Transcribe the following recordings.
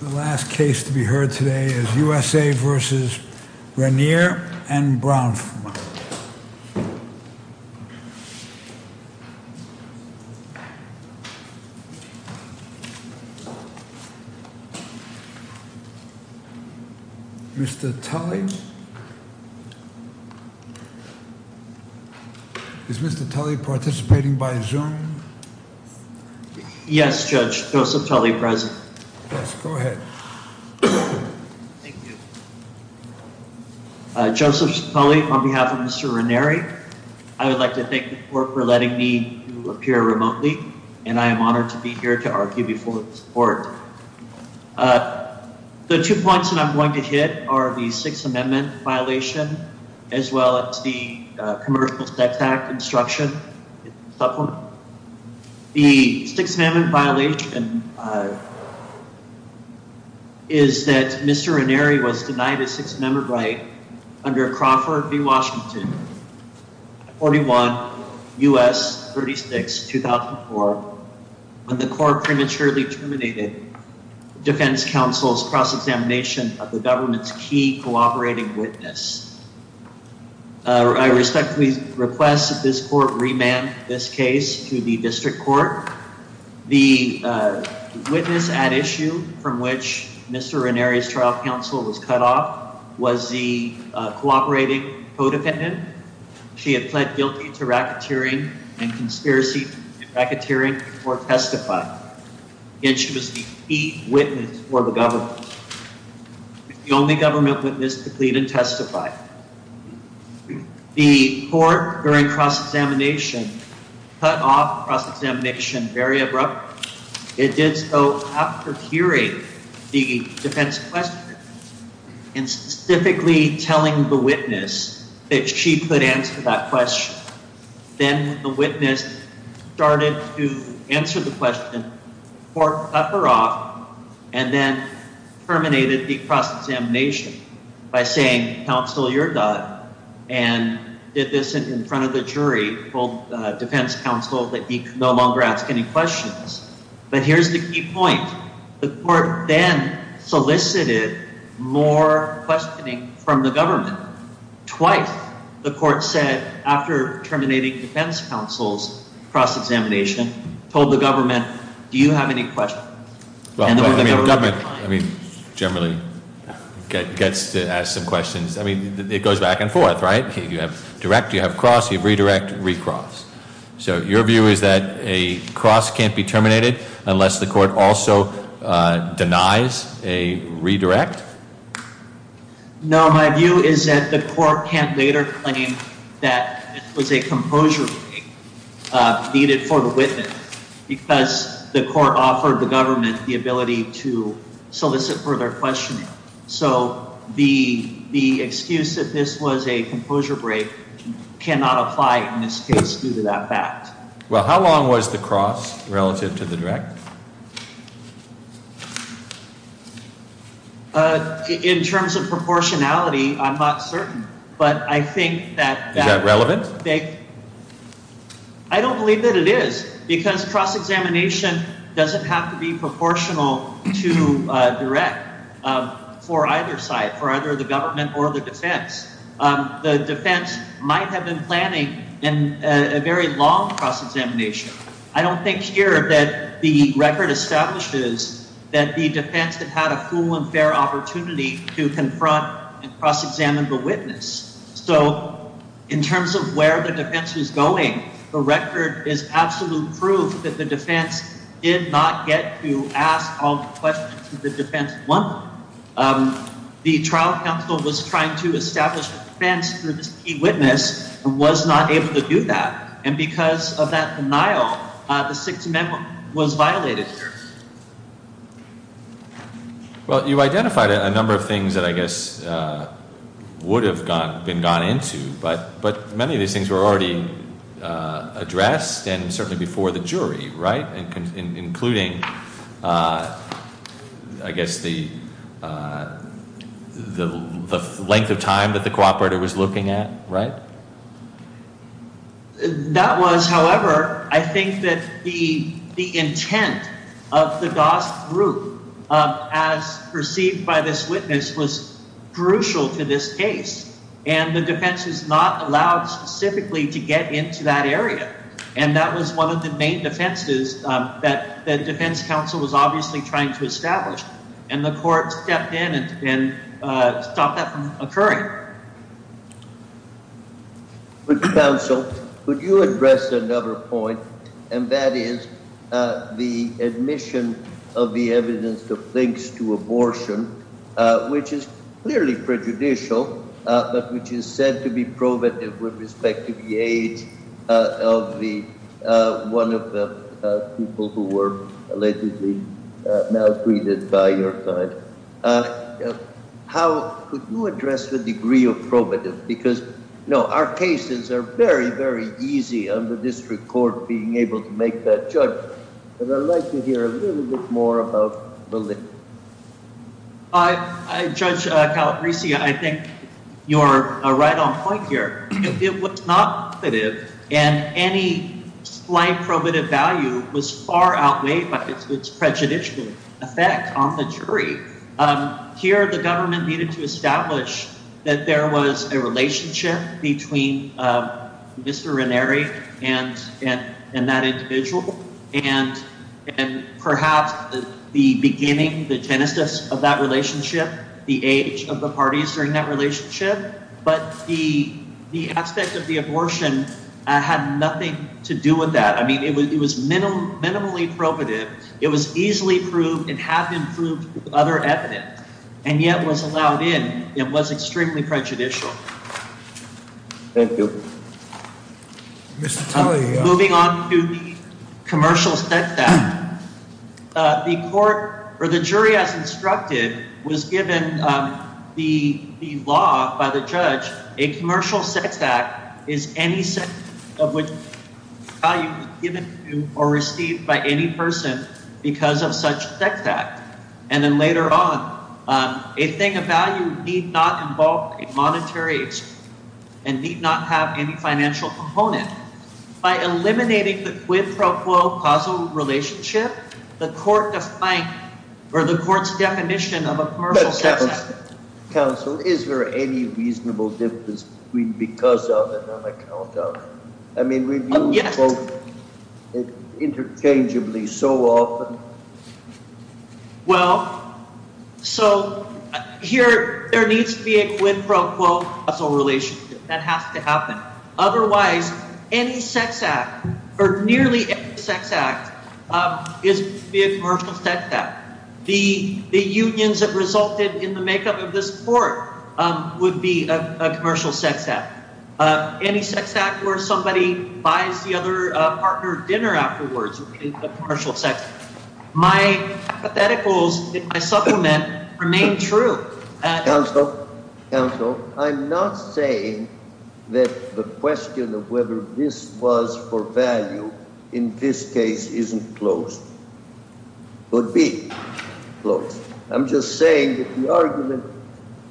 The last case to be heard today is USA v. Raniere and Bronfman. Mr. Tully? Is Mr. Tully participating by Zoom? Yes, Judge. Joseph Tully present. Yes, go ahead. Thank you. Joseph Tully on behalf of Mr. Raniere. I would like to thank the court for letting me appear remotely, and I am honored to be here to argue before this court. The two points that I'm going to hit are the Sixth Amendment violation, as well as the commercial setback instruction supplement. The Sixth Amendment violation is that Mr. Raniere was denied a Sixth Amendment right under Crawford v. Washington, 41 U.S. 36, 2004, when the court prematurely terminated the defense counsel's cross-examination of the government's key cooperating witness. I respectfully request that this court remand this case to the district court. The witness at issue from which Mr. Raniere's trial counsel was cut off was the cooperating co-defendant. She had pled guilty to racketeering and conspiracy to racketeering or testify. Again, she was the key witness for the government. She was the only government witness to plead and testify. The court, during cross-examination, cut off cross-examination very abruptly. It did so after curating the defense question, and specifically telling the witness that she could answer that question. Then the witness started to answer the question, the court cut her off, and then terminated the cross-examination by saying, counsel, you're done, and did this in front of the jury called defense counsel that he could no longer ask any questions. But here's the key point. The court then solicited more questioning from the government. Twice, the court said, after terminating defense counsel's cross-examination, told the government, do you have any questions? Well, the government generally gets to ask some questions. I mean, it goes back and forth, right? You have direct, you have cross, you have redirect, recross. So your view is that a cross can't be terminated unless the court also denies a redirect? No, my view is that the court can't later claim that it was a composure break needed for the witness because the court offered the government the ability to solicit further questioning. So the excuse that this was a composure break cannot apply in this case due to that fact. Well, how long was the cross relative to the direct? In terms of proportionality, I'm not certain. Is that relevant? I don't believe that it is because cross-examination doesn't have to be proportional to direct for either side, for either the government or the defense. The defense might have been planning a very long cross-examination. I don't think here that the record establishes that the defense had had a full and fair opportunity to confront and cross-examine the witness. So in terms of where the defense is going, the record is absolute proof that the defense did not get to ask all the questions that the defense wanted. The trial counsel was trying to establish a defense for this key witness and was not able to do that. And because of that denial, the Sixth Amendment was violated here. Well, you identified a number of things that I guess would have been gone into, but many of these things were already addressed and certainly before the jury, right? Including, I guess, the length of time that the cooperator was looking at, right? That was, however, I think that the intent of the GOST group, as perceived by this witness, was crucial to this case. And the defense is not allowed specifically to get into that area. And that was one of the main defenses that the defense counsel was obviously trying to establish. And the court stepped in and stopped that from occurring. Counsel, could you address another point? And that is the admission of the evidence that links to abortion, which is clearly prejudicial, but which is said to be probative with respect to the age of one of the people who were allegedly maltreated by your client. Could you address the degree of probative? Because, you know, our cases are very, very easy under district court being able to make that judgment. But I'd like to hear a little bit more about validity. Judge Calabresi, I think you're right on point here. It was not probative, and any slight probative value was far outweighed by its prejudicial effect on the jury. Here, the government needed to establish that there was a relationship between Mr. Renneri and that individual, and perhaps the beginning, the genesis of that relationship, the age of the parties during that relationship. But the aspect of the abortion had nothing to do with that. I mean, it was minimally probative. It was easily proved and had been proved with other evidence, and yet was allowed in. It was extremely prejudicial. Thank you. Moving on to the Commercial Sex Act, the court or the jury, as instructed, was given the law by the judge. A commercial sex act is any sex of which value is given to or received by any person because of such sex act. And then later on, a thing of value need not involve a monetary instrument and need not have any financial component. By eliminating the quid pro quo causal relationship, the court defined, or the court's definition of a commercial sex act. Counsel, is there any reasonable difference between because of and on account of? I mean, we view both interchangeably so often. Well, so here there needs to be a quid pro quo causal relationship. That has to happen. Otherwise, any sex act, or nearly any sex act, is to be a commercial sex act. The unions that resulted in the makeup of this court would be a commercial sex act. Any sex act where somebody buys the other partner dinner afterwards would be a commercial sex act. My hypotheticals in my supplement remain true. Counsel, counsel, I'm not saying that the question of whether this was for value in this case isn't closed. It would be closed. I'm just saying that the argument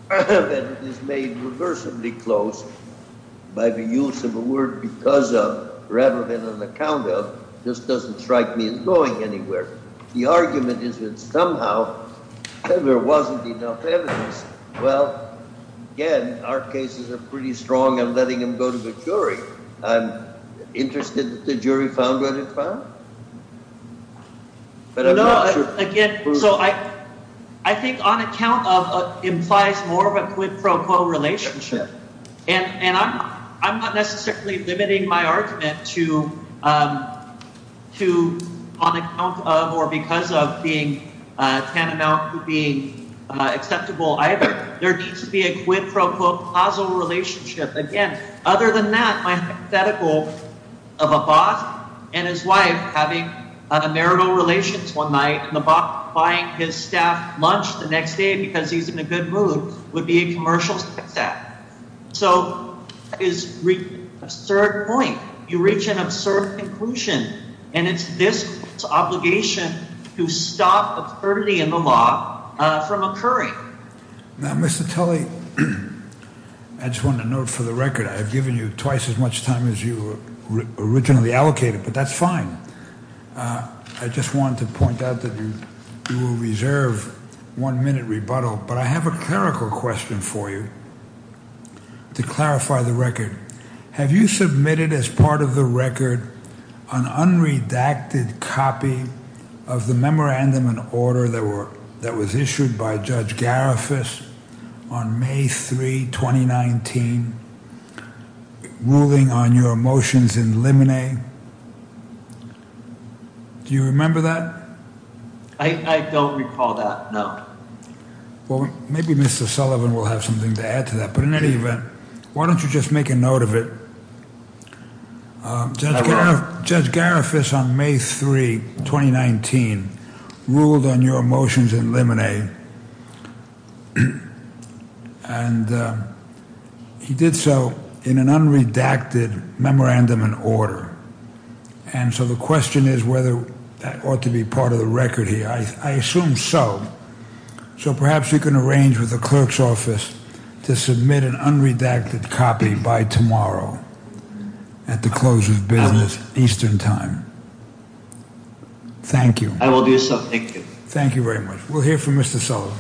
that it is made reversibly closed by the use of a word because of rather than on account of just doesn't strike me as going anywhere. The argument is that somehow there wasn't enough evidence. Well, again, our cases are pretty strong in letting them go to the jury. I'm interested that the jury found what it found. No, again, so I think on account of implies more of a quid pro quo relationship. And I'm not necessarily limiting my argument to on account of or because of being tantamount to being acceptable either. There needs to be a quid pro quo causal relationship. Again, other than that, my hypothetical of a boss and his wife having a marital relations one night and the buying his staff lunch the next day because he's in a good mood would be a commercial sex act. So is a third point. You reach an absurd conclusion, and it's this obligation to stop absurdity in the law from occurring. Now, Mr. Tully, I just want to note for the record I have given you twice as much time as you originally allocated, but that's fine. I just want to point out that you will reserve one minute rebuttal. But I have a clerical question for you to clarify the record. Have you submitted as part of the record an unredacted copy of the memorandum and order that were that was issued by Judge Garifuss on May 3, 2019, ruling on your motions in limine? Do you remember that? I don't recall that. Well, maybe Mr. Sullivan will have something to add to that. But in any event, why don't you just make a note of it? Judge Garifuss on May 3, 2019, ruled on your motions in limine. And he did so in an unredacted memorandum and order. And so the question is whether that ought to be part of the record here. I assume so. So perhaps you can arrange with the clerk's office to submit an unredacted copy by tomorrow at the close of business, Eastern Time. Thank you. I will do so. Thank you. Thank you very much. We'll hear from Mr. Sullivan.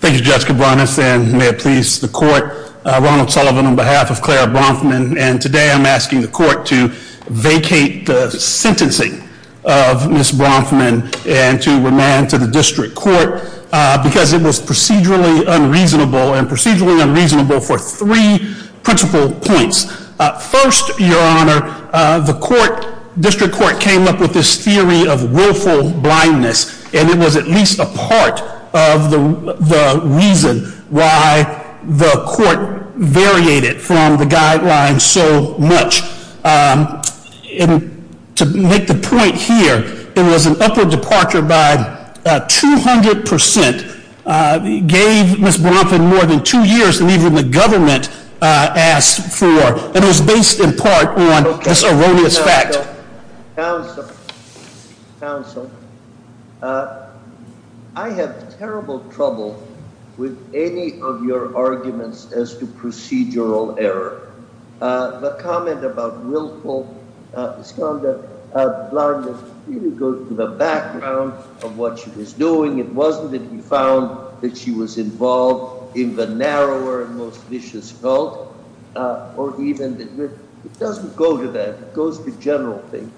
Thank you, Judge Cabranes. And may it please the court, Ronald Sullivan on behalf of Clara Bronfman. And today I'm asking the court to vacate the sentencing of Ms. Bronfman and to remand to the district court because it was procedurally unreasonable and procedurally unreasonable for three principal points. First, Your Honor, the district court came up with this theory of willful blindness. And it was at least a part of the reason why the court variated from the guidelines so much. And to make the point here, it was an upward departure by 200 percent, gave Ms. Bronfman more than two years than even the government asked for. And it was based in part on this erroneous fact. Counsel, I have terrible trouble with any of your arguments as to procedural error. The comment about willful blindness really goes to the background of what she was doing. It wasn't that he found that she was involved in the narrower and most vicious cult. It doesn't go to that. It goes to general things.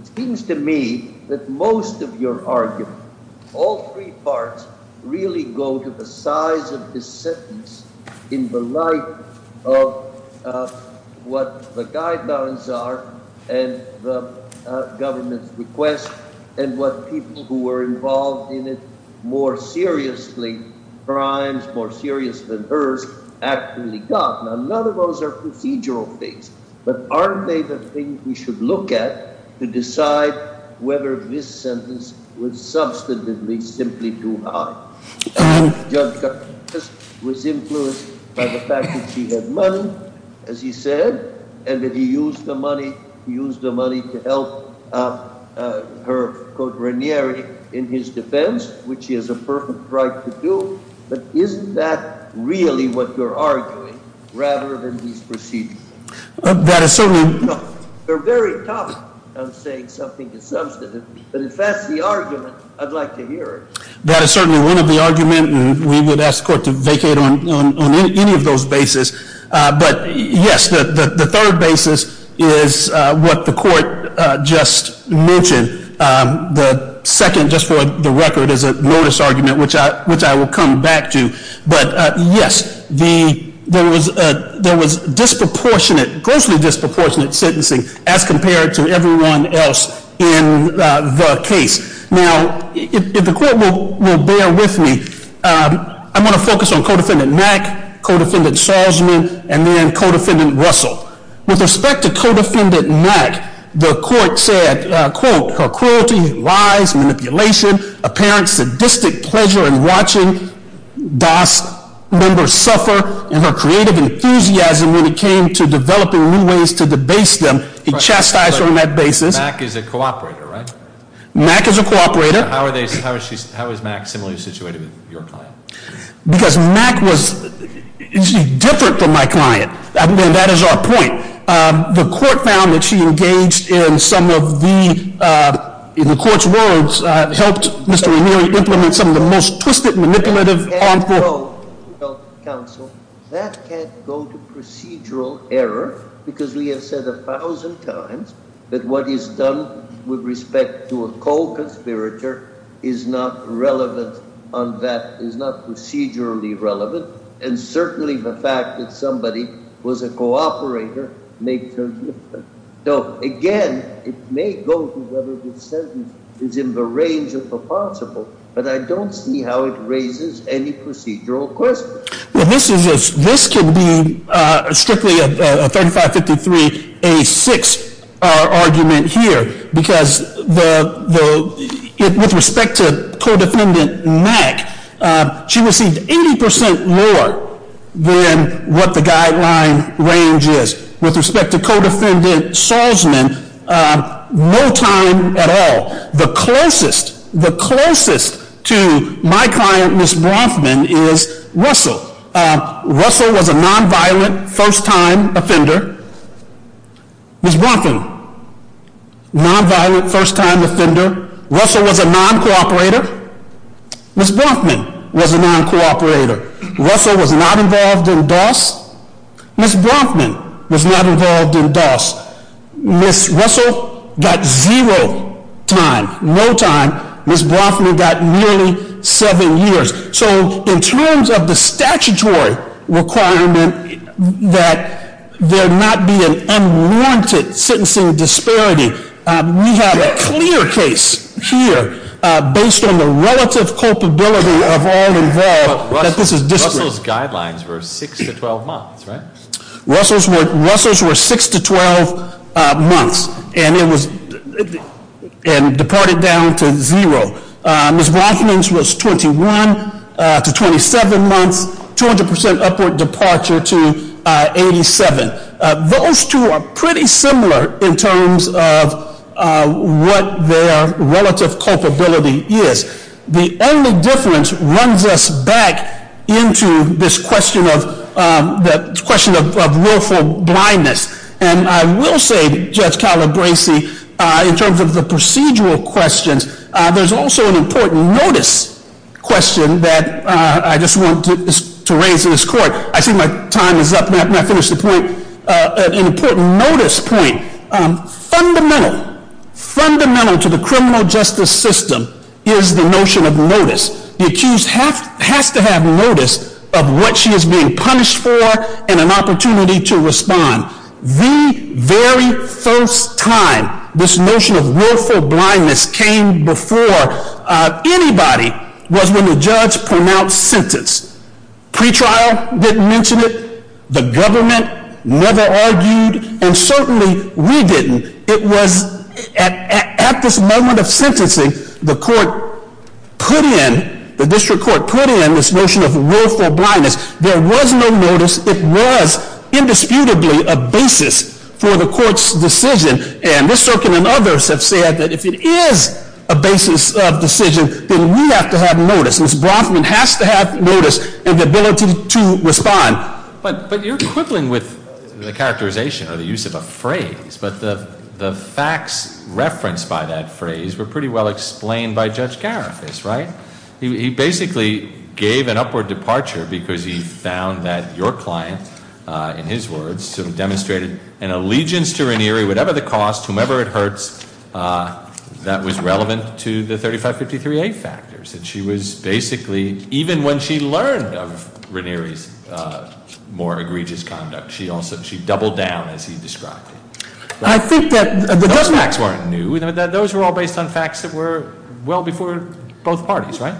It seems to me that most of your argument, all three parts really go to the size of this sentence in the light of what the guidelines are and the government's request and what people who were involved in it more seriously, crimes more serious than hers, actually got. Now, none of those are procedural things. But aren't they the things we should look at to decide whether this sentence was substantively simply too high? Judge Gutman was influenced by the fact that she had money, as he said, and that he used the money to help her, quote, Raniere, in his defense, which she has a perfect right to do. But isn't that really what you're arguing, rather than these procedural things? That is certainly— No, you're very tough on saying something is substantive. But if that's the argument, I'd like to hear it. That is certainly one of the arguments, and we would ask the court to vacate on any of those bases. But yes, the third basis is what the court just mentioned. The second, just for the record, is a notice argument, which I will come back to. But yes, there was disproportionate, grossly disproportionate sentencing as compared to everyone else in the case. Now, if the court will bear with me, I'm going to focus on Codefendant Mack, Codefendant Salzman, and then Codefendant Russell. With respect to Codefendant Mack, the court said, quote, her cruelty, lies, manipulation, apparent sadistic pleasure in watching DAS members suffer, and her creative enthusiasm when it came to developing new ways to debase them, he chastised her on that basis. Mack is a cooperator, right? Mack is a cooperator. How is Mack similarly situated with your client? Because Mack was different from my client, and that is our point. The court found that she engaged in some of the, in the court's words, helped Mr. Amiri implement some of the most twisted, manipulative, harmful- That can't go to procedural error, because we have said a thousand times that what is done with respect to a co-conspirator is not relevant on that, is not procedurally relevant, and certainly the fact that somebody was a cooperator may turn different. So, again, it may go to whether the sentence is in the range of the possible, but I don't see how it raises any procedural questions. This can be strictly a 3553A6 argument here, because with respect to co-defendant Mack, she received 80% lower than what the guideline range is. With respect to co-defendant Salzman, no time at all. The closest, the closest to my client, Ms. Bronfman, is Russell. Russell was a non-violent, first-time offender. Ms. Bronfman, non-violent, first-time offender. Russell was a non-cooperator. Ms. Bronfman was a non-cooperator. Russell was not involved in DOS. Ms. Bronfman was not involved in DOS. Ms. Russell got zero time, no time. Ms. Bronfman got nearly seven years. So, in terms of the statutory requirement that there not be an unwanted sentencing disparity, we have a clear case here, based on the relative culpability of all involved, that this is disparate. Russell's guidelines were six to 12 months, right? Russell's were six to 12 months, and it was, and departed down to zero. Ms. Bronfman's was 21 to 27 months, 200% upward departure to 87. Those two are pretty similar in terms of what their relative culpability is. The only difference runs us back into this question of willful blindness. And I will say, Judge Calabresi, in terms of the procedural questions, there's also an important notice question that I just want to raise in this court. I see my time is up, and I have not finished the point. An important notice point. Fundamental, fundamental to the criminal justice system is the notion of notice. The accused has to have notice of what she is being punished for and an opportunity to respond. The very first time this notion of willful blindness came before anybody was when the judge pronounced sentence. Pre-trial didn't mention it. The government never argued, and certainly we didn't. It was at this moment of sentencing, the court put in, the district court put in this notion of willful blindness. There was no notice. It was indisputably a basis for the court's decision. And Ms. Sorkin and others have said that if it is a basis of decision, then we have to have notice. Ms. Brothman has to have notice and the ability to respond. But you're quibbling with the characterization or the use of a phrase. But the facts referenced by that phrase were pretty well explained by Judge Garifas, right? He basically gave an upward departure because he found that your client, in his words, demonstrated an allegiance to Ranieri, whatever the cost, whomever it hurts, that was relevant to the 3553A factors. And she was basically, even when she learned of Ranieri's more egregious conduct, she doubled down as he described it. Those facts weren't new. Those were all based on facts that were well before both parties, right?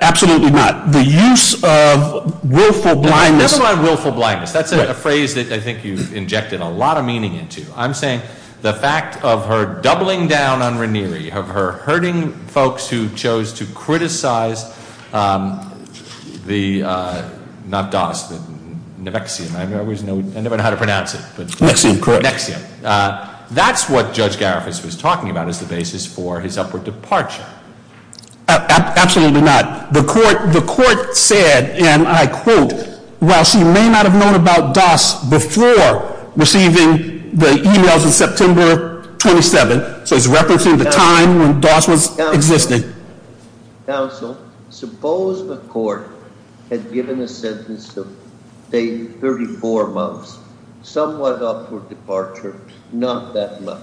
Absolutely not. The use of willful blindness Never mind willful blindness. That's a phrase that I think you've injected a lot of meaning into. I'm saying the fact of her doubling down on Ranieri, of her hurting folks who chose to criticize the, not Doss, Nexium. I never know how to pronounce it. Nexium, correct. That's what Judge Garifas was talking about as the basis for his upward departure. Absolutely not. The court said, and I quote, while she may not have known about Doss before receiving the emails in September 27, so it's referencing the time when Doss was existing. Counsel, suppose the court had given a sentence of 34 months, somewhat upward departure, not that much.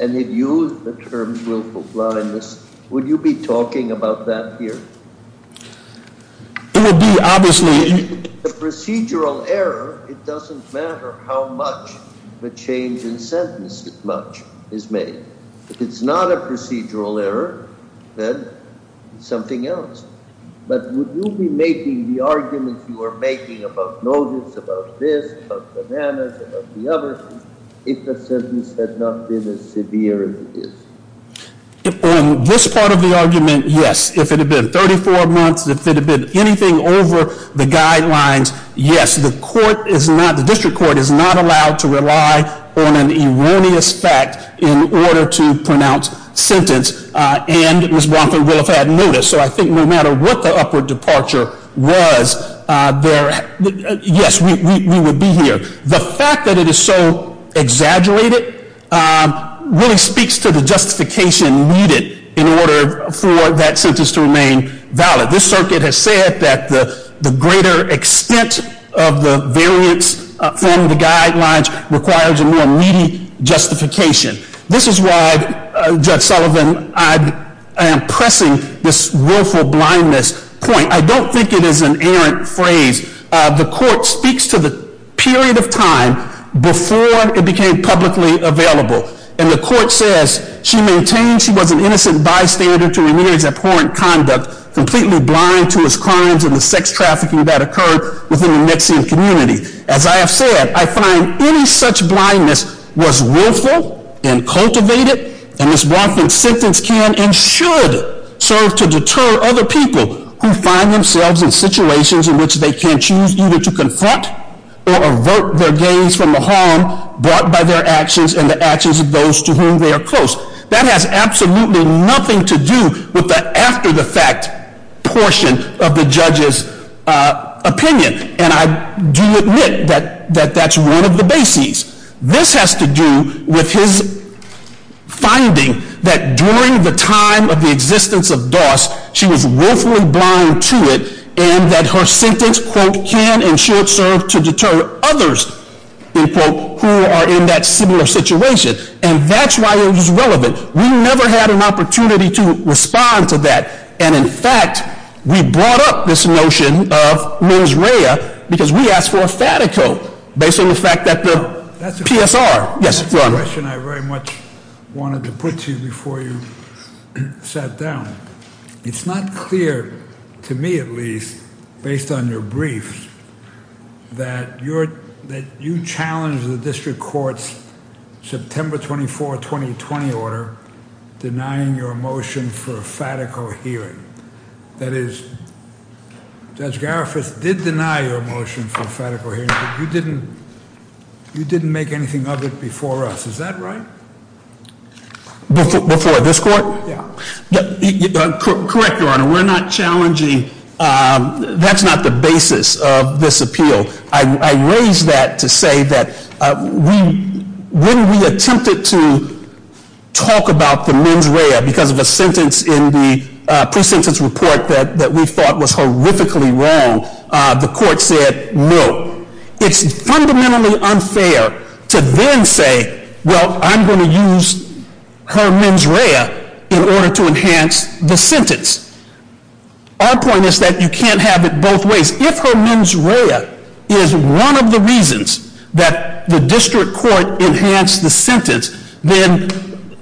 And it used the term willful blindness. Would you be talking about that here? It would be obviously The procedural error, it doesn't matter how much the change in sentence is made. If it's not a procedural error, then something else. But would you be making the arguments you are making about notice, about this, about bananas, about the others, if the sentence had not been as severe as it is? On this part of the argument, yes. If it had been 34 months, if it had been anything over the guidelines, yes. The court is not, the district court is not allowed to rely on an erroneous fact in order to pronounce sentence. And Ms. Bronfen will have had notice. So I think no matter what the upward departure was, yes, we would be here. The fact that it is so exaggerated really speaks to the justification needed in order for that sentence to remain valid. This circuit has said that the greater extent of the variance from the guidelines requires a more needy justification. This is why, Judge Sullivan, I am pressing this willful blindness point. I don't think it is an errant phrase. The court speaks to the period of time before it became publicly available. And the court says, she maintains she was an innocent bystander to Ramirez's abhorrent conduct, completely blind to his crimes and the sex trafficking that occurred within the Mexican community. As I have said, I find any such blindness was willful and cultivated. And Ms. Bronfen's sentence can and should serve to deter other people who find themselves in situations in which they can choose either to confront or avert their gaze from the harm brought by their actions and the actions of those to whom they are close. That has absolutely nothing to do with the after the fact portion of the judge's opinion. And I do admit that that's one of the bases. This has to do with his finding that during the time of the existence of Doss, she was willfully blind to it and that her sentence, quote, can and should serve to deter others, unquote, who are in that similar situation. And that's why it was relevant. We never had an opportunity to respond to that. And in fact, we brought up this notion of mens rea because we asked for a fatico based on the fact that the PSR. Yes, your honor. The question I very much wanted to put to you before you sat down. It's not clear to me, at least based on your briefs, that you're that you challenge the district court's September 24, 2020 order denying your motion for a fatico hearing. That is, Judge Garifuss did deny your motion for a fatico hearing. You didn't make anything of it before us. Is that right? Before this court? Yeah. Correct, your honor. We're not challenging. That's not the basis of this appeal. I raise that to say that when we attempted to talk about the mens rea because of a sentence in the pre-sentence report that we thought was horrifically wrong, the court said no. It's fundamentally unfair to then say, well, I'm going to use her mens rea in order to enhance the sentence. Our point is that you can't have it both ways. If her mens rea is one of the reasons that the district court enhanced the sentence, then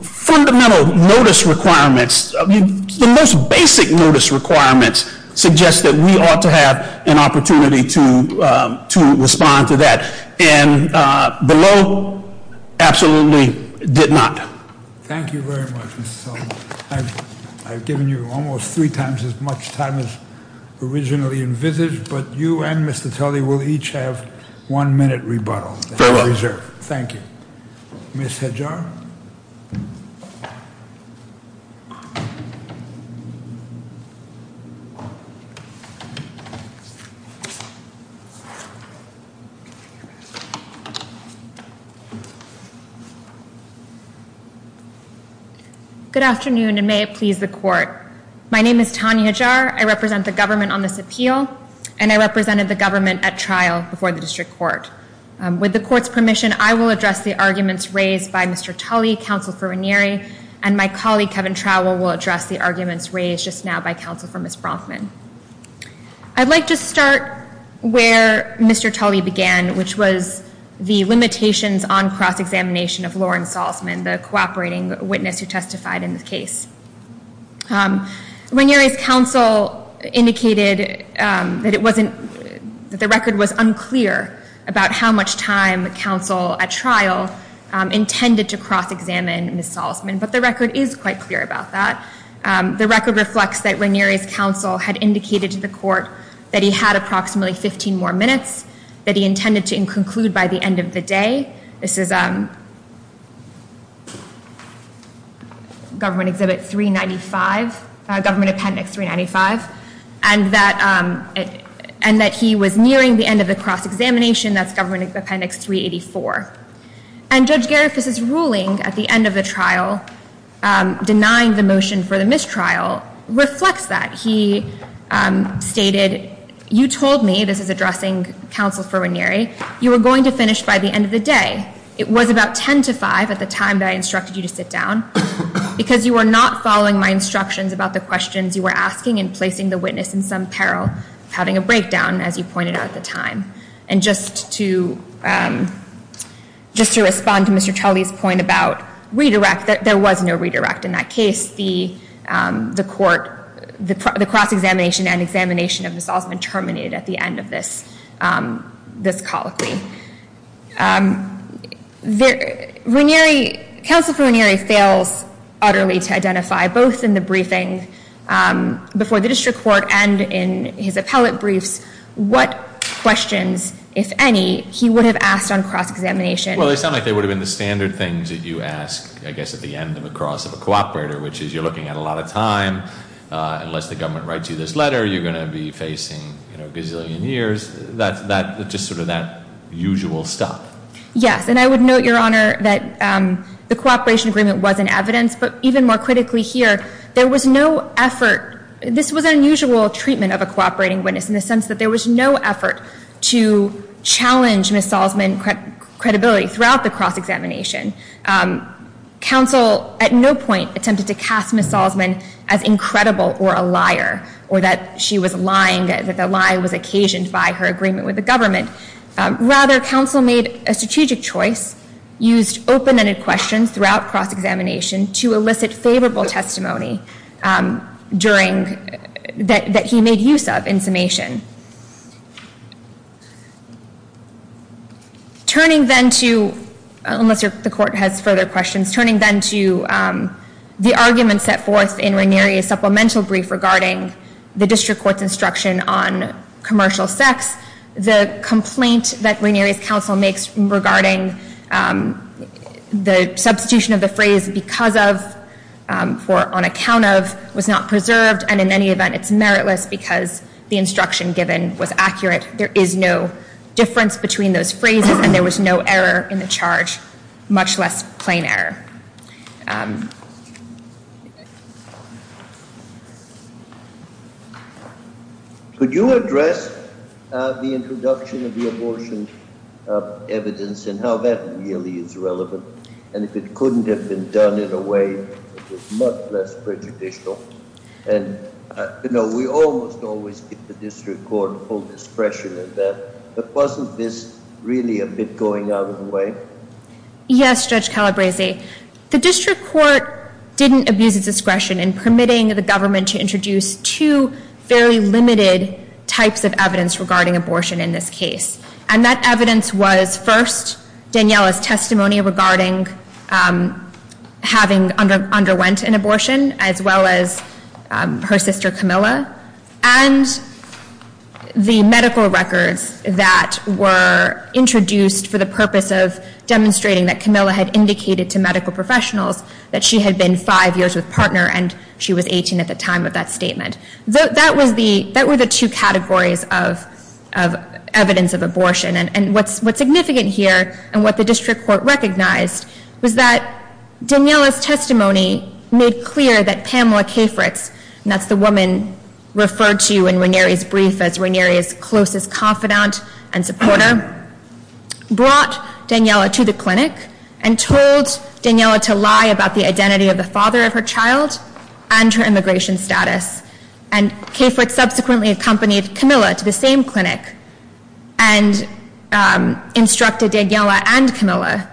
fundamental notice requirements, the most basic notice requirements, suggest that we ought to have an opportunity to respond to that. And below absolutely did not. Thank you very much, Mr. Sullivan. I've given you almost three times as much time as originally envisaged, but you and Mr. Tully will each have one minute rebuttal. Fair enough. Thank you. Ms. Hedjar? Ms. Hedjar? Good afternoon, and may it please the court. My name is Tanya Hedjar. I represent the government on this appeal, and I represented the government at trial before the district court. With the court's permission, I will address the arguments raised by Mr. Tully, counsel for Raniere, and my colleague, Kevin Trowell, will address the arguments raised just now by counsel for Ms. Bronfman. I'd like to start where Mr. Tully began, which was the limitations on cross-examination of Lauren Salzman, the cooperating witness who testified in the case. Raniere's counsel indicated that the record was unclear about how much time counsel at trial intended to cross-examine Ms. Salzman, but the record is quite clear about that. The record reflects that Raniere's counsel had indicated to the court that he had approximately 15 more minutes, that he intended to conclude by the end of the day. This is Government Exhibit 395, Government Appendix 395, and that he was nearing the end of the cross-examination. That's Government Appendix 384. And Judge Garifuss's ruling at the end of the trial denying the motion for the mistrial reflects that. He stated, you told me, this is addressing counsel for Raniere, you were going to finish by the end of the day. It was about 10 to 5 at the time that I instructed you to sit down, because you were not following my instructions about the questions you were asking and placing the witness in some peril of having a breakdown, as you pointed out at the time. And just to respond to Mr. Tully's point about redirect, there was no redirect in that case. The cross-examination and examination of this all has been terminated at the end of this colloquy. Counsel for Raniere fails utterly to identify, both in the briefing before the district court and in his appellate briefs, what questions, if any, he would have asked on cross-examination. Well, they sound like they would have been the standard things that you ask, I guess, at the end of a cross of a cooperator, which is you're looking at a lot of time. Unless the government writes you this letter, you're going to be facing a gazillion years. That's just sort of that usual stuff. Yes. And I would note, Your Honor, that the cooperation agreement was in evidence. But even more critically here, there was no effort. This was an unusual treatment of a cooperating witness, in the sense that there was no effort to challenge Ms. Salzman's credibility throughout the cross-examination. Counsel at no point attempted to cast Ms. Salzman as incredible or a liar, or that she was lying, that the lie was occasioned by her agreement with the government. Rather, counsel made a strategic choice, used open-ended questions throughout cross-examination to elicit favorable testimony that he made use of in summation. Turning then to, unless the court has further questions, turning then to the argument set forth in Ranieri's supplemental brief regarding the district court's instruction on commercial sex, the complaint that Ranieri's counsel makes regarding the substitution of the phrase because of, or on account of, was not preserved. And in any event, it's meritless because the instruction given was accurate. There is no difference between those phrases, and there was no error in the charge, much less plain error. Could you address the introduction of the abortion evidence and how that really is relevant? And if it couldn't have been done in a way that was much less prejudicial? And, you know, we almost always give the district court full discretion in that. But wasn't this really a bit going out of the way? Yes, Judge Calabresi. The district court didn't abuse its discretion in permitting the government to introduce two fairly limited types of evidence regarding abortion in this case. And that evidence was, first, Daniella's testimony regarding having underwent an abortion, as well as her sister Camilla, and the medical records that were introduced for the purpose of demonstrating that Camilla had indicated to medical professionals that she had been five years with partner and she was 18 at the time of that statement. That was the, that were the two categories of evidence of abortion. And what's significant here and what the district court recognized was that Daniella's testimony made clear that Pamela Cafritz, and that's the woman referred to in Ranieri's brief as Ranieri's closest confidant and supporter, brought Daniella to the clinic and told Daniella to lie about the identity of the father of her child and her immigration status. And Cafritz subsequently accompanied Camilla to the same clinic and instructed Daniella and Camilla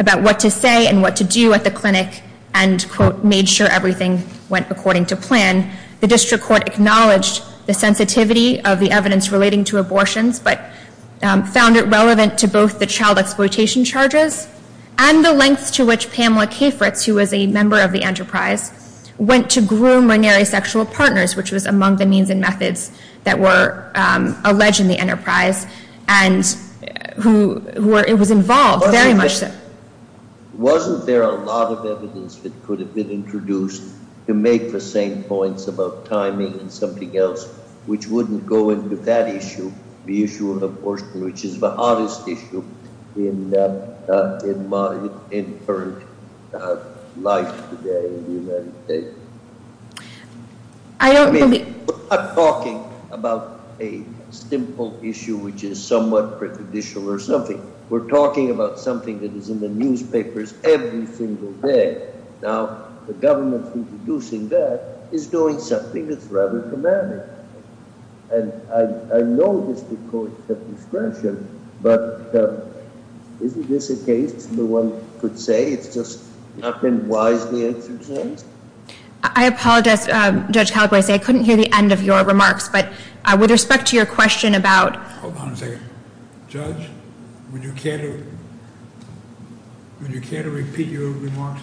about what to say and what to do at the clinic and, quote, made sure everything went according to plan. The district court acknowledged the sensitivity of the evidence relating to abortions, but found it relevant to both the child exploitation charges and the lengths to which Pamela Cafritz, who was a member of the enterprise, went to groom Ranieri's sexual partners, which was among the means and methods that were alleged in the enterprise and who were, it was involved very much. Wasn't there a lot of evidence that could have been introduced to make the same points about timing and something else which wouldn't go into that issue, the issue of abortion, which is the hottest issue in modern, in current life today in the United States? I mean, we're not talking about a simple issue which is somewhat prejudicial or something. We're talking about something that is in the newspapers every single day. Now, the government introducing that is doing something that's rather dramatic. And I know this is the court's discretion, but isn't this a case where one could say it's just not been wisely exercised? I apologize, Judge Calabrese. I couldn't hear the end of your remarks. But with respect to your question about— Hold on a second. Judge, would you care to repeat your remarks?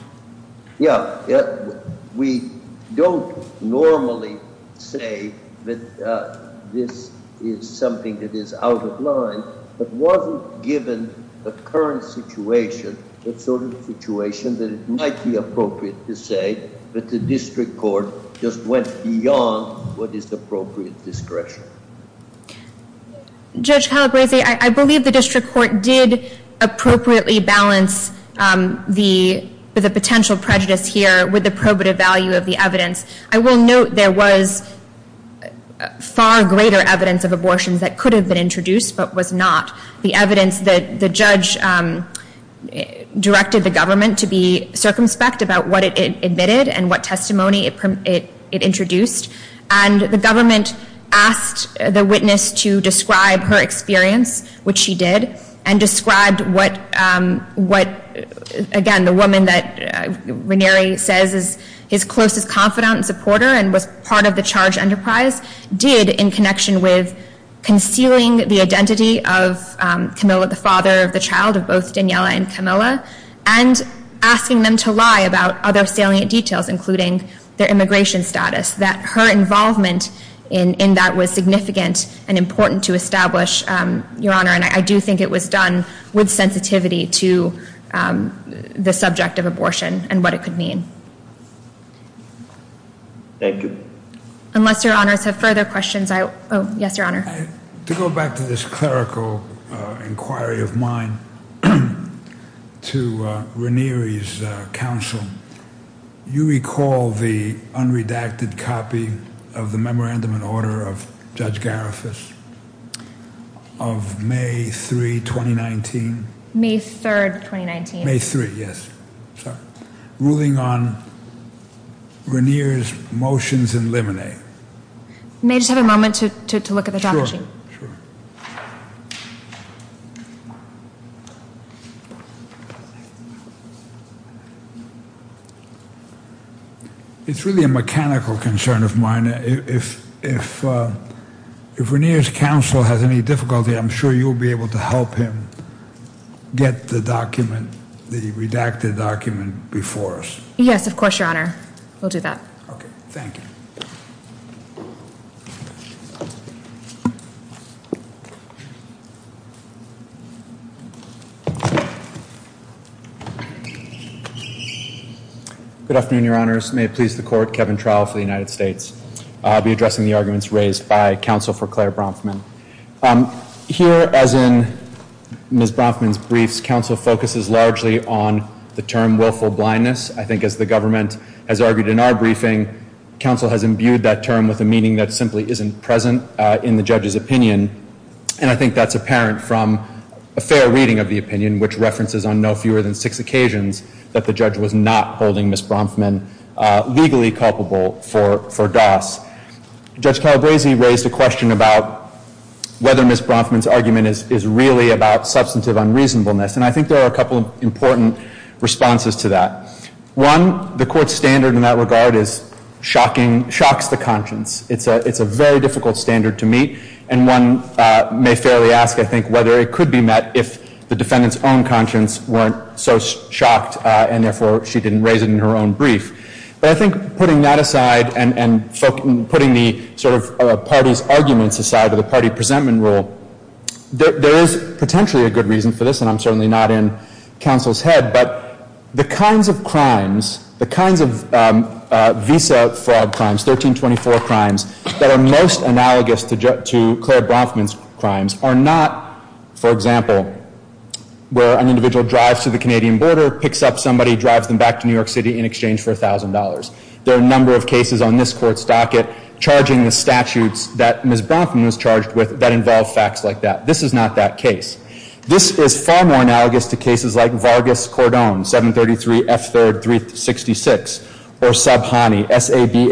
Yeah. We don't normally say that this is something that is out of line, but wasn't given the current situation, that it might be appropriate to say that the district court just went beyond what is appropriate discretion. Judge Calabrese, I believe the district court did appropriately balance the potential prejudice here with the probative value of the evidence. I will note there was far greater evidence of abortions that could have been introduced but was not. The evidence that the judge directed the government to be circumspect about what it admitted and what testimony it introduced. And the government asked the witness to describe her experience, which she did, and described what, again, the woman that Ranieri says is his closest confidant and supporter and was part of the charge enterprise did in connection with concealing the identity of Camilla, the father of the child of both Daniela and Camilla, and asking them to lie about other salient details, including their immigration status, that her involvement in that was significant and important to establish, Your Honor. And I do think it was done with sensitivity to the subject of abortion and what it could mean. Thank you. Unless Your Honors have further questions, I will. Yes, Your Honor. To go back to this clerical inquiry of mine, to Ranieri's counsel, you recall the unredacted copy of the memorandum and order of Judge Garifas of May 3, 2019? May 3, 2019. May 3, yes. Sorry. Ruling on Ranieri's motions in limine. May I just have a moment to look at the time machine? Sure. It's really a mechanical concern of mine. If Ranieri's counsel has any difficulty, I'm sure you'll be able to help him get the document, the redacted document before us. Yes, of course, Your Honor. We'll do that. Okay, thank you. Good afternoon, Your Honors. May it please the Court, Kevin Trowell for the United States. I'll be addressing the arguments raised by counsel for Claire Bronfman. Here, as in Ms. Bronfman's briefs, counsel focuses largely on the term willful blindness. I think as the government has argued in our briefing, counsel has imbued that term with a meaning that simply isn't present in the judge's opinion. In which references on no fewer than six occasions that the judge was not holding Ms. Bronfman legally culpable for DOS. Judge Calabresi raised a question about whether Ms. Bronfman's argument is really about substantive unreasonableness. And I think there are a couple of important responses to that. One, the Court's standard in that regard is shocking, shocks the conscience. It's a very difficult standard to meet. And one may fairly ask, I think, whether it could be met if the defendant's own conscience weren't so shocked. And therefore, she didn't raise it in her own brief. But I think putting that aside and putting the sort of party's arguments aside of the party presentment rule, there is potentially a good reason for this. And I'm certainly not in counsel's head. But the kinds of crimes, the kinds of visa fraud crimes, 1324 crimes, that are most analogous to Clara Bronfman's crimes are not, for example, where an individual drives to the Canadian border, picks up somebody, drives them back to New York City in exchange for $1,000. There are a number of cases on this Court's docket charging the statutes that Ms. Bronfman was charged with that involve facts like that. This is not that case. This is far more analogous to cases like Vargas-Cordone, 733 F3rd 366, or Sabhani, S-A-B-H-N-A-N-I.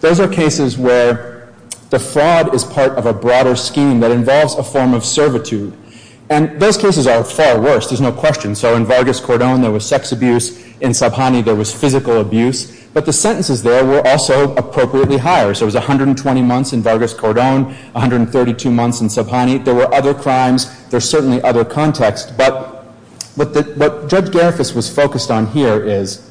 Those are cases where the fraud is part of a broader scheme that involves a form of servitude. And those cases are far worse. There's no question. So in Vargas-Cordone, there was sex abuse. In Sabhani, there was physical abuse. But the sentences there were also appropriately higher. So it was 120 months in Vargas-Cordone, 132 months in Sabhani. There were other crimes. There's certainly other context. But what Judge Garifus was focused on here is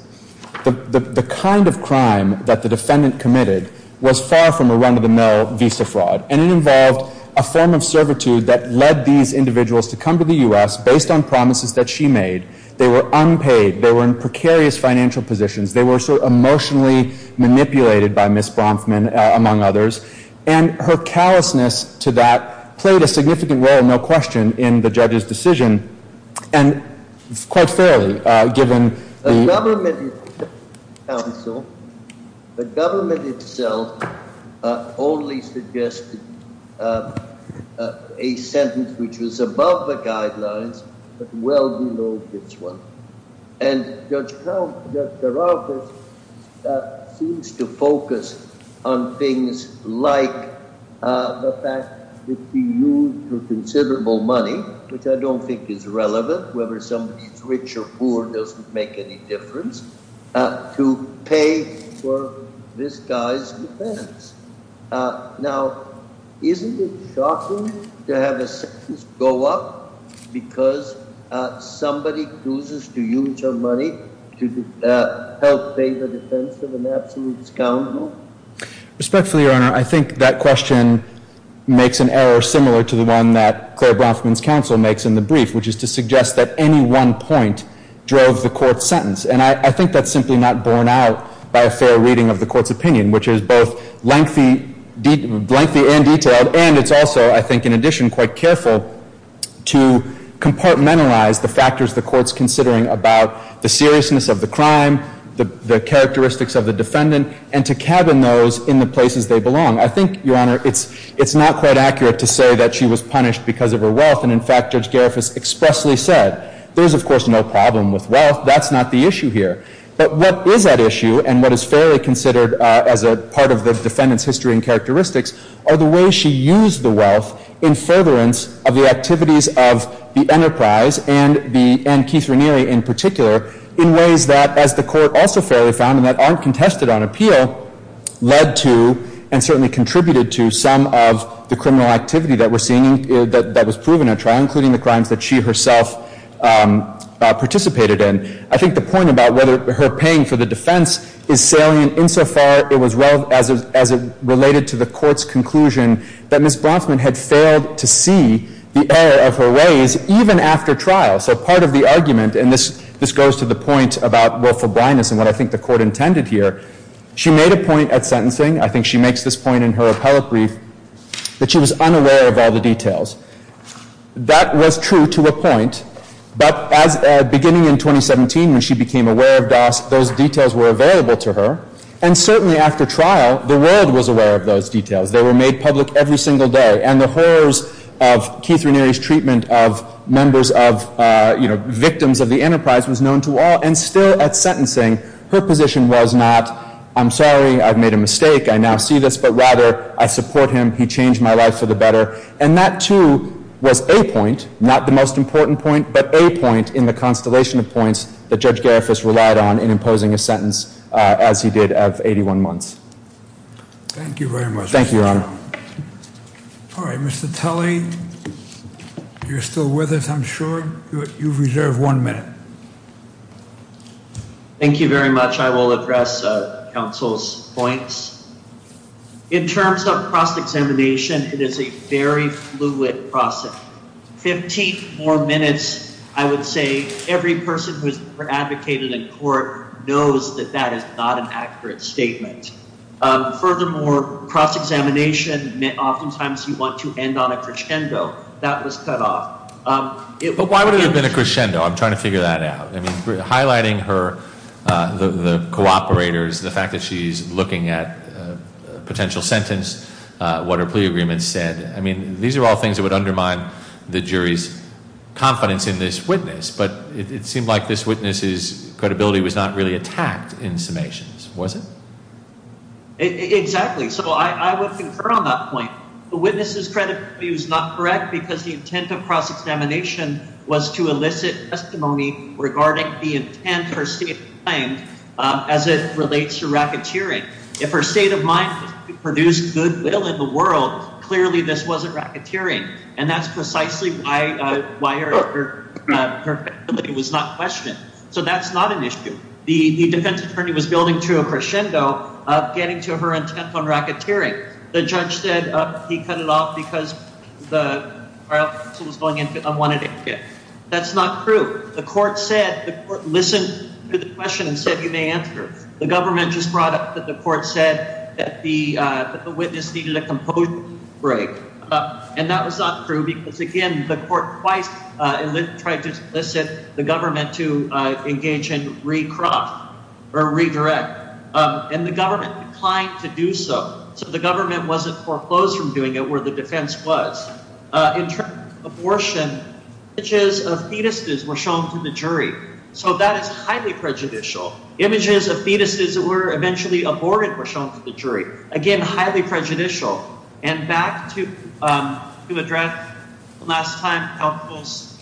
the kind of crime that the defendant committed was far from a run-of-the-mill visa fraud. And it involved a form of servitude that led these individuals to come to the U.S. based on promises that she made. They were unpaid. They were in precarious financial positions. They were sort of emotionally manipulated by Ms. Bronfman, among others. And her callousness to that played a significant role, no question, in the judge's decision. And quite fairly, given the- The government itself only suggested a sentence which was above the guidelines but well below this one. And Judge Garifus seems to focus on things like the fact that she used considerable money, which I don't think is relevant. Whether somebody is rich or poor doesn't make any difference. To pay for this guy's defense. Now, isn't it shocking to have a sentence go up because somebody chooses to use her money to help pay the defense of an absolute scoundrel? Respectfully, Your Honor, I think that question makes an error similar to the one that Claire Bronfman's counsel makes in the brief, which is to suggest that any one point drove the court's sentence. And I think that's simply not borne out by a fair reading of the court's opinion, which is both lengthy and detailed. And it's also, I think in addition, quite careful to compartmentalize the factors the court's considering about the seriousness of the crime, the characteristics of the defendant, and to cabin those in the places they belong. I think, Your Honor, it's not quite accurate to say that she was punished because of her wealth. And in fact, Judge Gariffis expressly said, there's, of course, no problem with wealth. That's not the issue here. But what is at issue, and what is fairly considered as a part of the defendant's history and characteristics, are the ways she used the wealth in furtherance of the activities of the enterprise, and Keith Ranieri in particular, in ways that, as the court also fairly found and that aren't contested on appeal, led to and certainly contributed to some of the criminal activity that was proven at trial, including the crimes that she herself participated in. I think the point about whether her paying for the defense is salient insofar as it related to the court's conclusion that Ms. Bronfman had failed to see the error of her ways even after trial. So part of the argument, and this goes to the point about willful blindness and what I think the court intended here, she made a point at sentencing, I think she makes this point in her appellate brief, that she was unaware of all the details. That was true to a point. But beginning in 2017, when she became aware of DOS, those details were available to her. And certainly after trial, the world was aware of those details. They were made public every single day. And the horrors of Keith Ranieri's treatment of members of, you know, victims of the enterprise was known to all. And still at sentencing, her position was not, I'm sorry, I've made a mistake, I now see this, but rather I support him, he changed my life for the better. And that, too, was a point, not the most important point, but a point in the constellation of points that Judge Garifuss relied on in imposing his sentence as he did of 81 months. Thank you very much. Thank you, Your Honor. All right, Mr. Tully, you're still with us, I'm sure. You've reserved one minute. Thank you very much. I will address counsel's points. In terms of cross-examination, it is a very fluid process. Fifteen more minutes, I would say, every person who has advocated in court knows that that is not an accurate statement. Furthermore, cross-examination, oftentimes you want to end on a crescendo. That was cut off. But why would it have been a crescendo? I'm trying to figure that out. I mean, highlighting her, the cooperators, the fact that she's looking at a potential sentence, what her plea agreement said, I mean, these are all things that would undermine the jury's confidence in this witness. But it seemed like this witness's credibility was not really attacked in summations, was it? Exactly. So I would concur on that point. The witness's credibility was not correct because the intent of cross-examination was to elicit testimony regarding the intent or state of mind as it relates to racketeering. If her state of mind was to produce goodwill in the world, clearly this wasn't racketeering. And that's precisely why her credibility was not questioned. So that's not an issue. The defense attorney was building to a crescendo of getting to her intent on racketeering. The judge said he cut it off because the trial counsel was going in and wanted it to end. That's not true. The court said, the court listened to the question and said you may answer. The government just brought up that the court said that the witness needed a composure break. And that was not true because, again, the court twice tried to elicit the government to engage in recraft or redirect. And the government declined to do so. So the government wasn't foreclosed from doing it where the defense was. In terms of abortion, images of fetuses were shown to the jury. So that is highly prejudicial. Images of fetuses that were eventually aborted were shown to the jury. Again, highly prejudicial. And back to the last time counsel's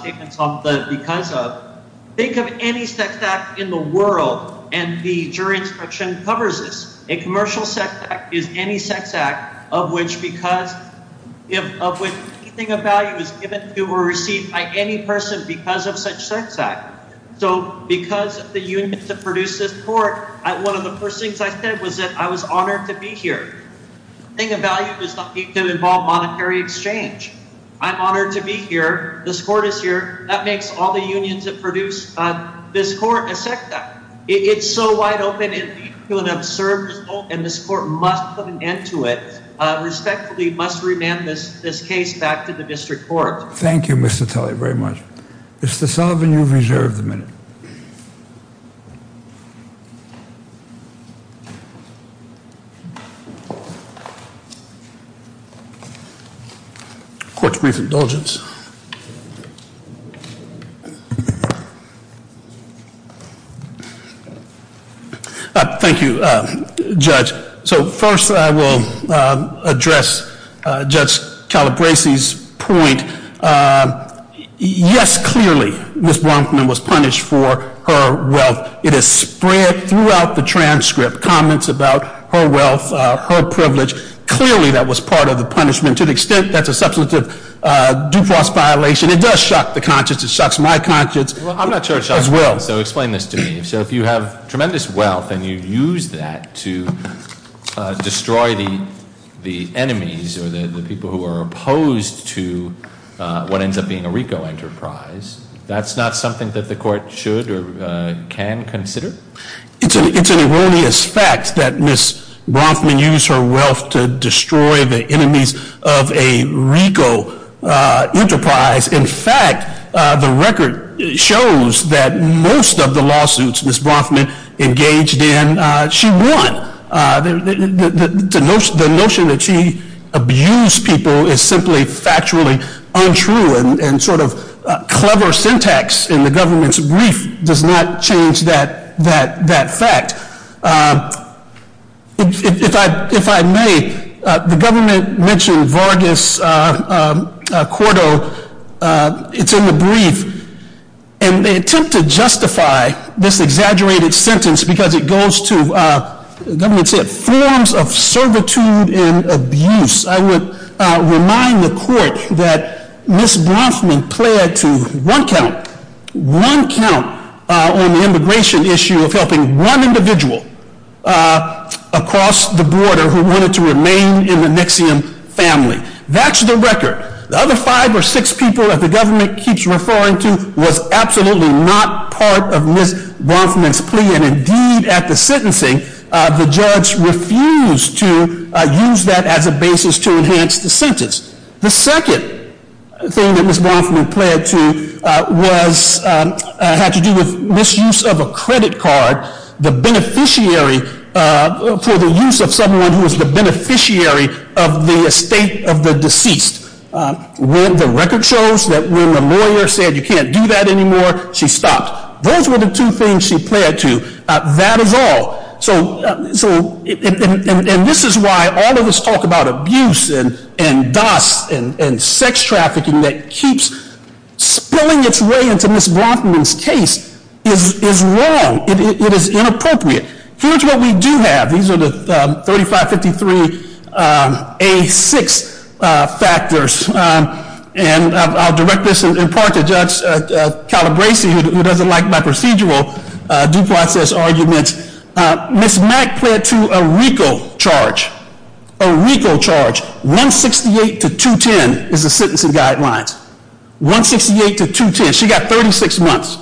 statements on the because of, think of any sex act in the world, and the jury instruction covers this. A commercial sex act is any sex act of which anything of value is given to or received by any person because of such sex act. So because of the union to produce this court, one of the first things I said was that I was honored to be here. Anything of value does not need to involve monetary exchange. I'm honored to be here. This court is here. That makes all the unions that produce this court a sex act. It's so wide open and deep and observable, and this court must put an end to it, respectfully must remand this case back to the district court. Thank you, Mr. Talley, very much. Mr. Sullivan, you've reserved the minute. Court's brief indulgence. Thank you, Judge. So first I will address Judge Calabresi's point. Yes, clearly, Ms. Bronfman was punished for her wealth. It is spread throughout the transcript, comments about her wealth, her privilege. Clearly that was part of the punishment. To the extent that's a substantive due process violation, it does shock the conscience. It shocks my conscience as well. Well, I'm not sure it shocks mine, so explain this to me. So if you have tremendous wealth and you use that to destroy the enemies or the people who are opposed to what ends up being a RICO enterprise, that's not something that the court should or can consider? It's an erroneous fact that Ms. Bronfman used her wealth to destroy the enemies of a RICO enterprise. In fact, the record shows that most of the lawsuits Ms. Bronfman engaged in, she won. The notion that she abused people is simply factually untrue, and sort of clever syntax in the government's brief does not change that fact. If I may, the government mentioned Vargas Cordo. It's in the brief, and they attempt to justify this exaggerated sentence because it goes to, the government said, forms of servitude and abuse. I would remind the court that Ms. Bronfman pled to one count on the immigration issue of helping one individual across the border who wanted to remain in the Nixxiom family. That's the record. The other five or six people that the government keeps referring to was absolutely not part of Ms. Bronfman's plea, and indeed at the sentencing, the judge refused to use that as a basis to enhance the sentence. The second thing that Ms. Bronfman pled to had to do with misuse of a credit card, the beneficiary for the use of someone who was the beneficiary of the estate of the deceased. The record shows that when the lawyer said, you can't do that anymore, she stopped. Those were the two things she pled to. That is all. And this is why all of this talk about abuse and dust and sex trafficking that keeps spilling its way into Ms. Bronfman's case is wrong. It is inappropriate. Here's what we do have. These are the 3553A6 factors. And I'll direct this in part to Judge Calabresi, who doesn't like my procedural due process arguments. Ms. Mack pled to a RICO charge. A RICO charge. 168 to 210 is the sentencing guidelines. 168 to 210. She got 36 months.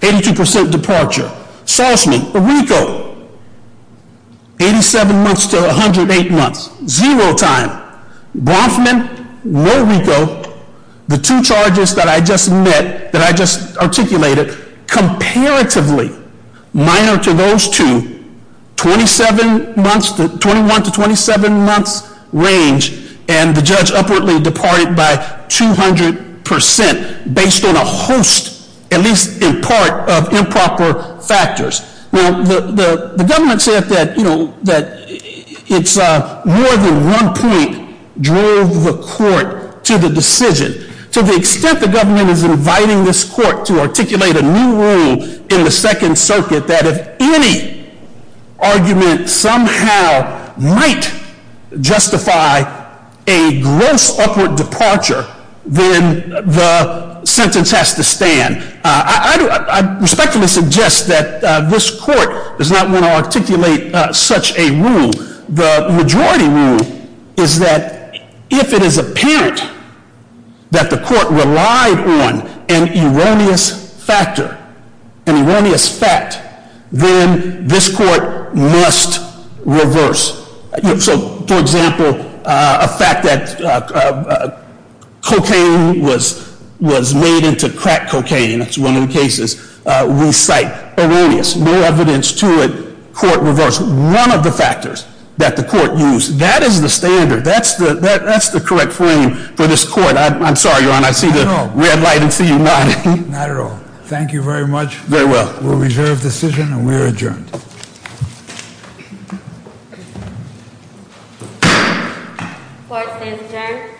82% departure. Salzman, a RICO. 87 months to 108 months. Zero time. Bronfman, no RICO. The two charges that I just met, that I just articulated, comparatively minor to those two, 21 to 27 months range. And the judge upwardly departed by 200% based on a host, at least in part, of improper factors. Now, the government said that it's more than one point drove the court to the decision. To the extent the government is inviting this court to articulate a new rule in the Second Circuit that if any argument somehow might justify a gross upward departure, then the sentence has to stand. I respectfully suggest that this court does not want to articulate such a rule. The majority rule is that if it is apparent that the court relied on an erroneous factor, an erroneous fact, then this court must reverse. So, for example, a fact that cocaine was made into crack cocaine. That's one of the cases we cite. Erroneous. No evidence to it. Court reversed. One of the factors that the court used. That is the standard. That's the correct frame for this court. I'm sorry, Your Honor. I see the red light and see you nodding. Not at all. Thank you very much. Very well. We'll reserve decision and we are adjourned. Court stands adjourned.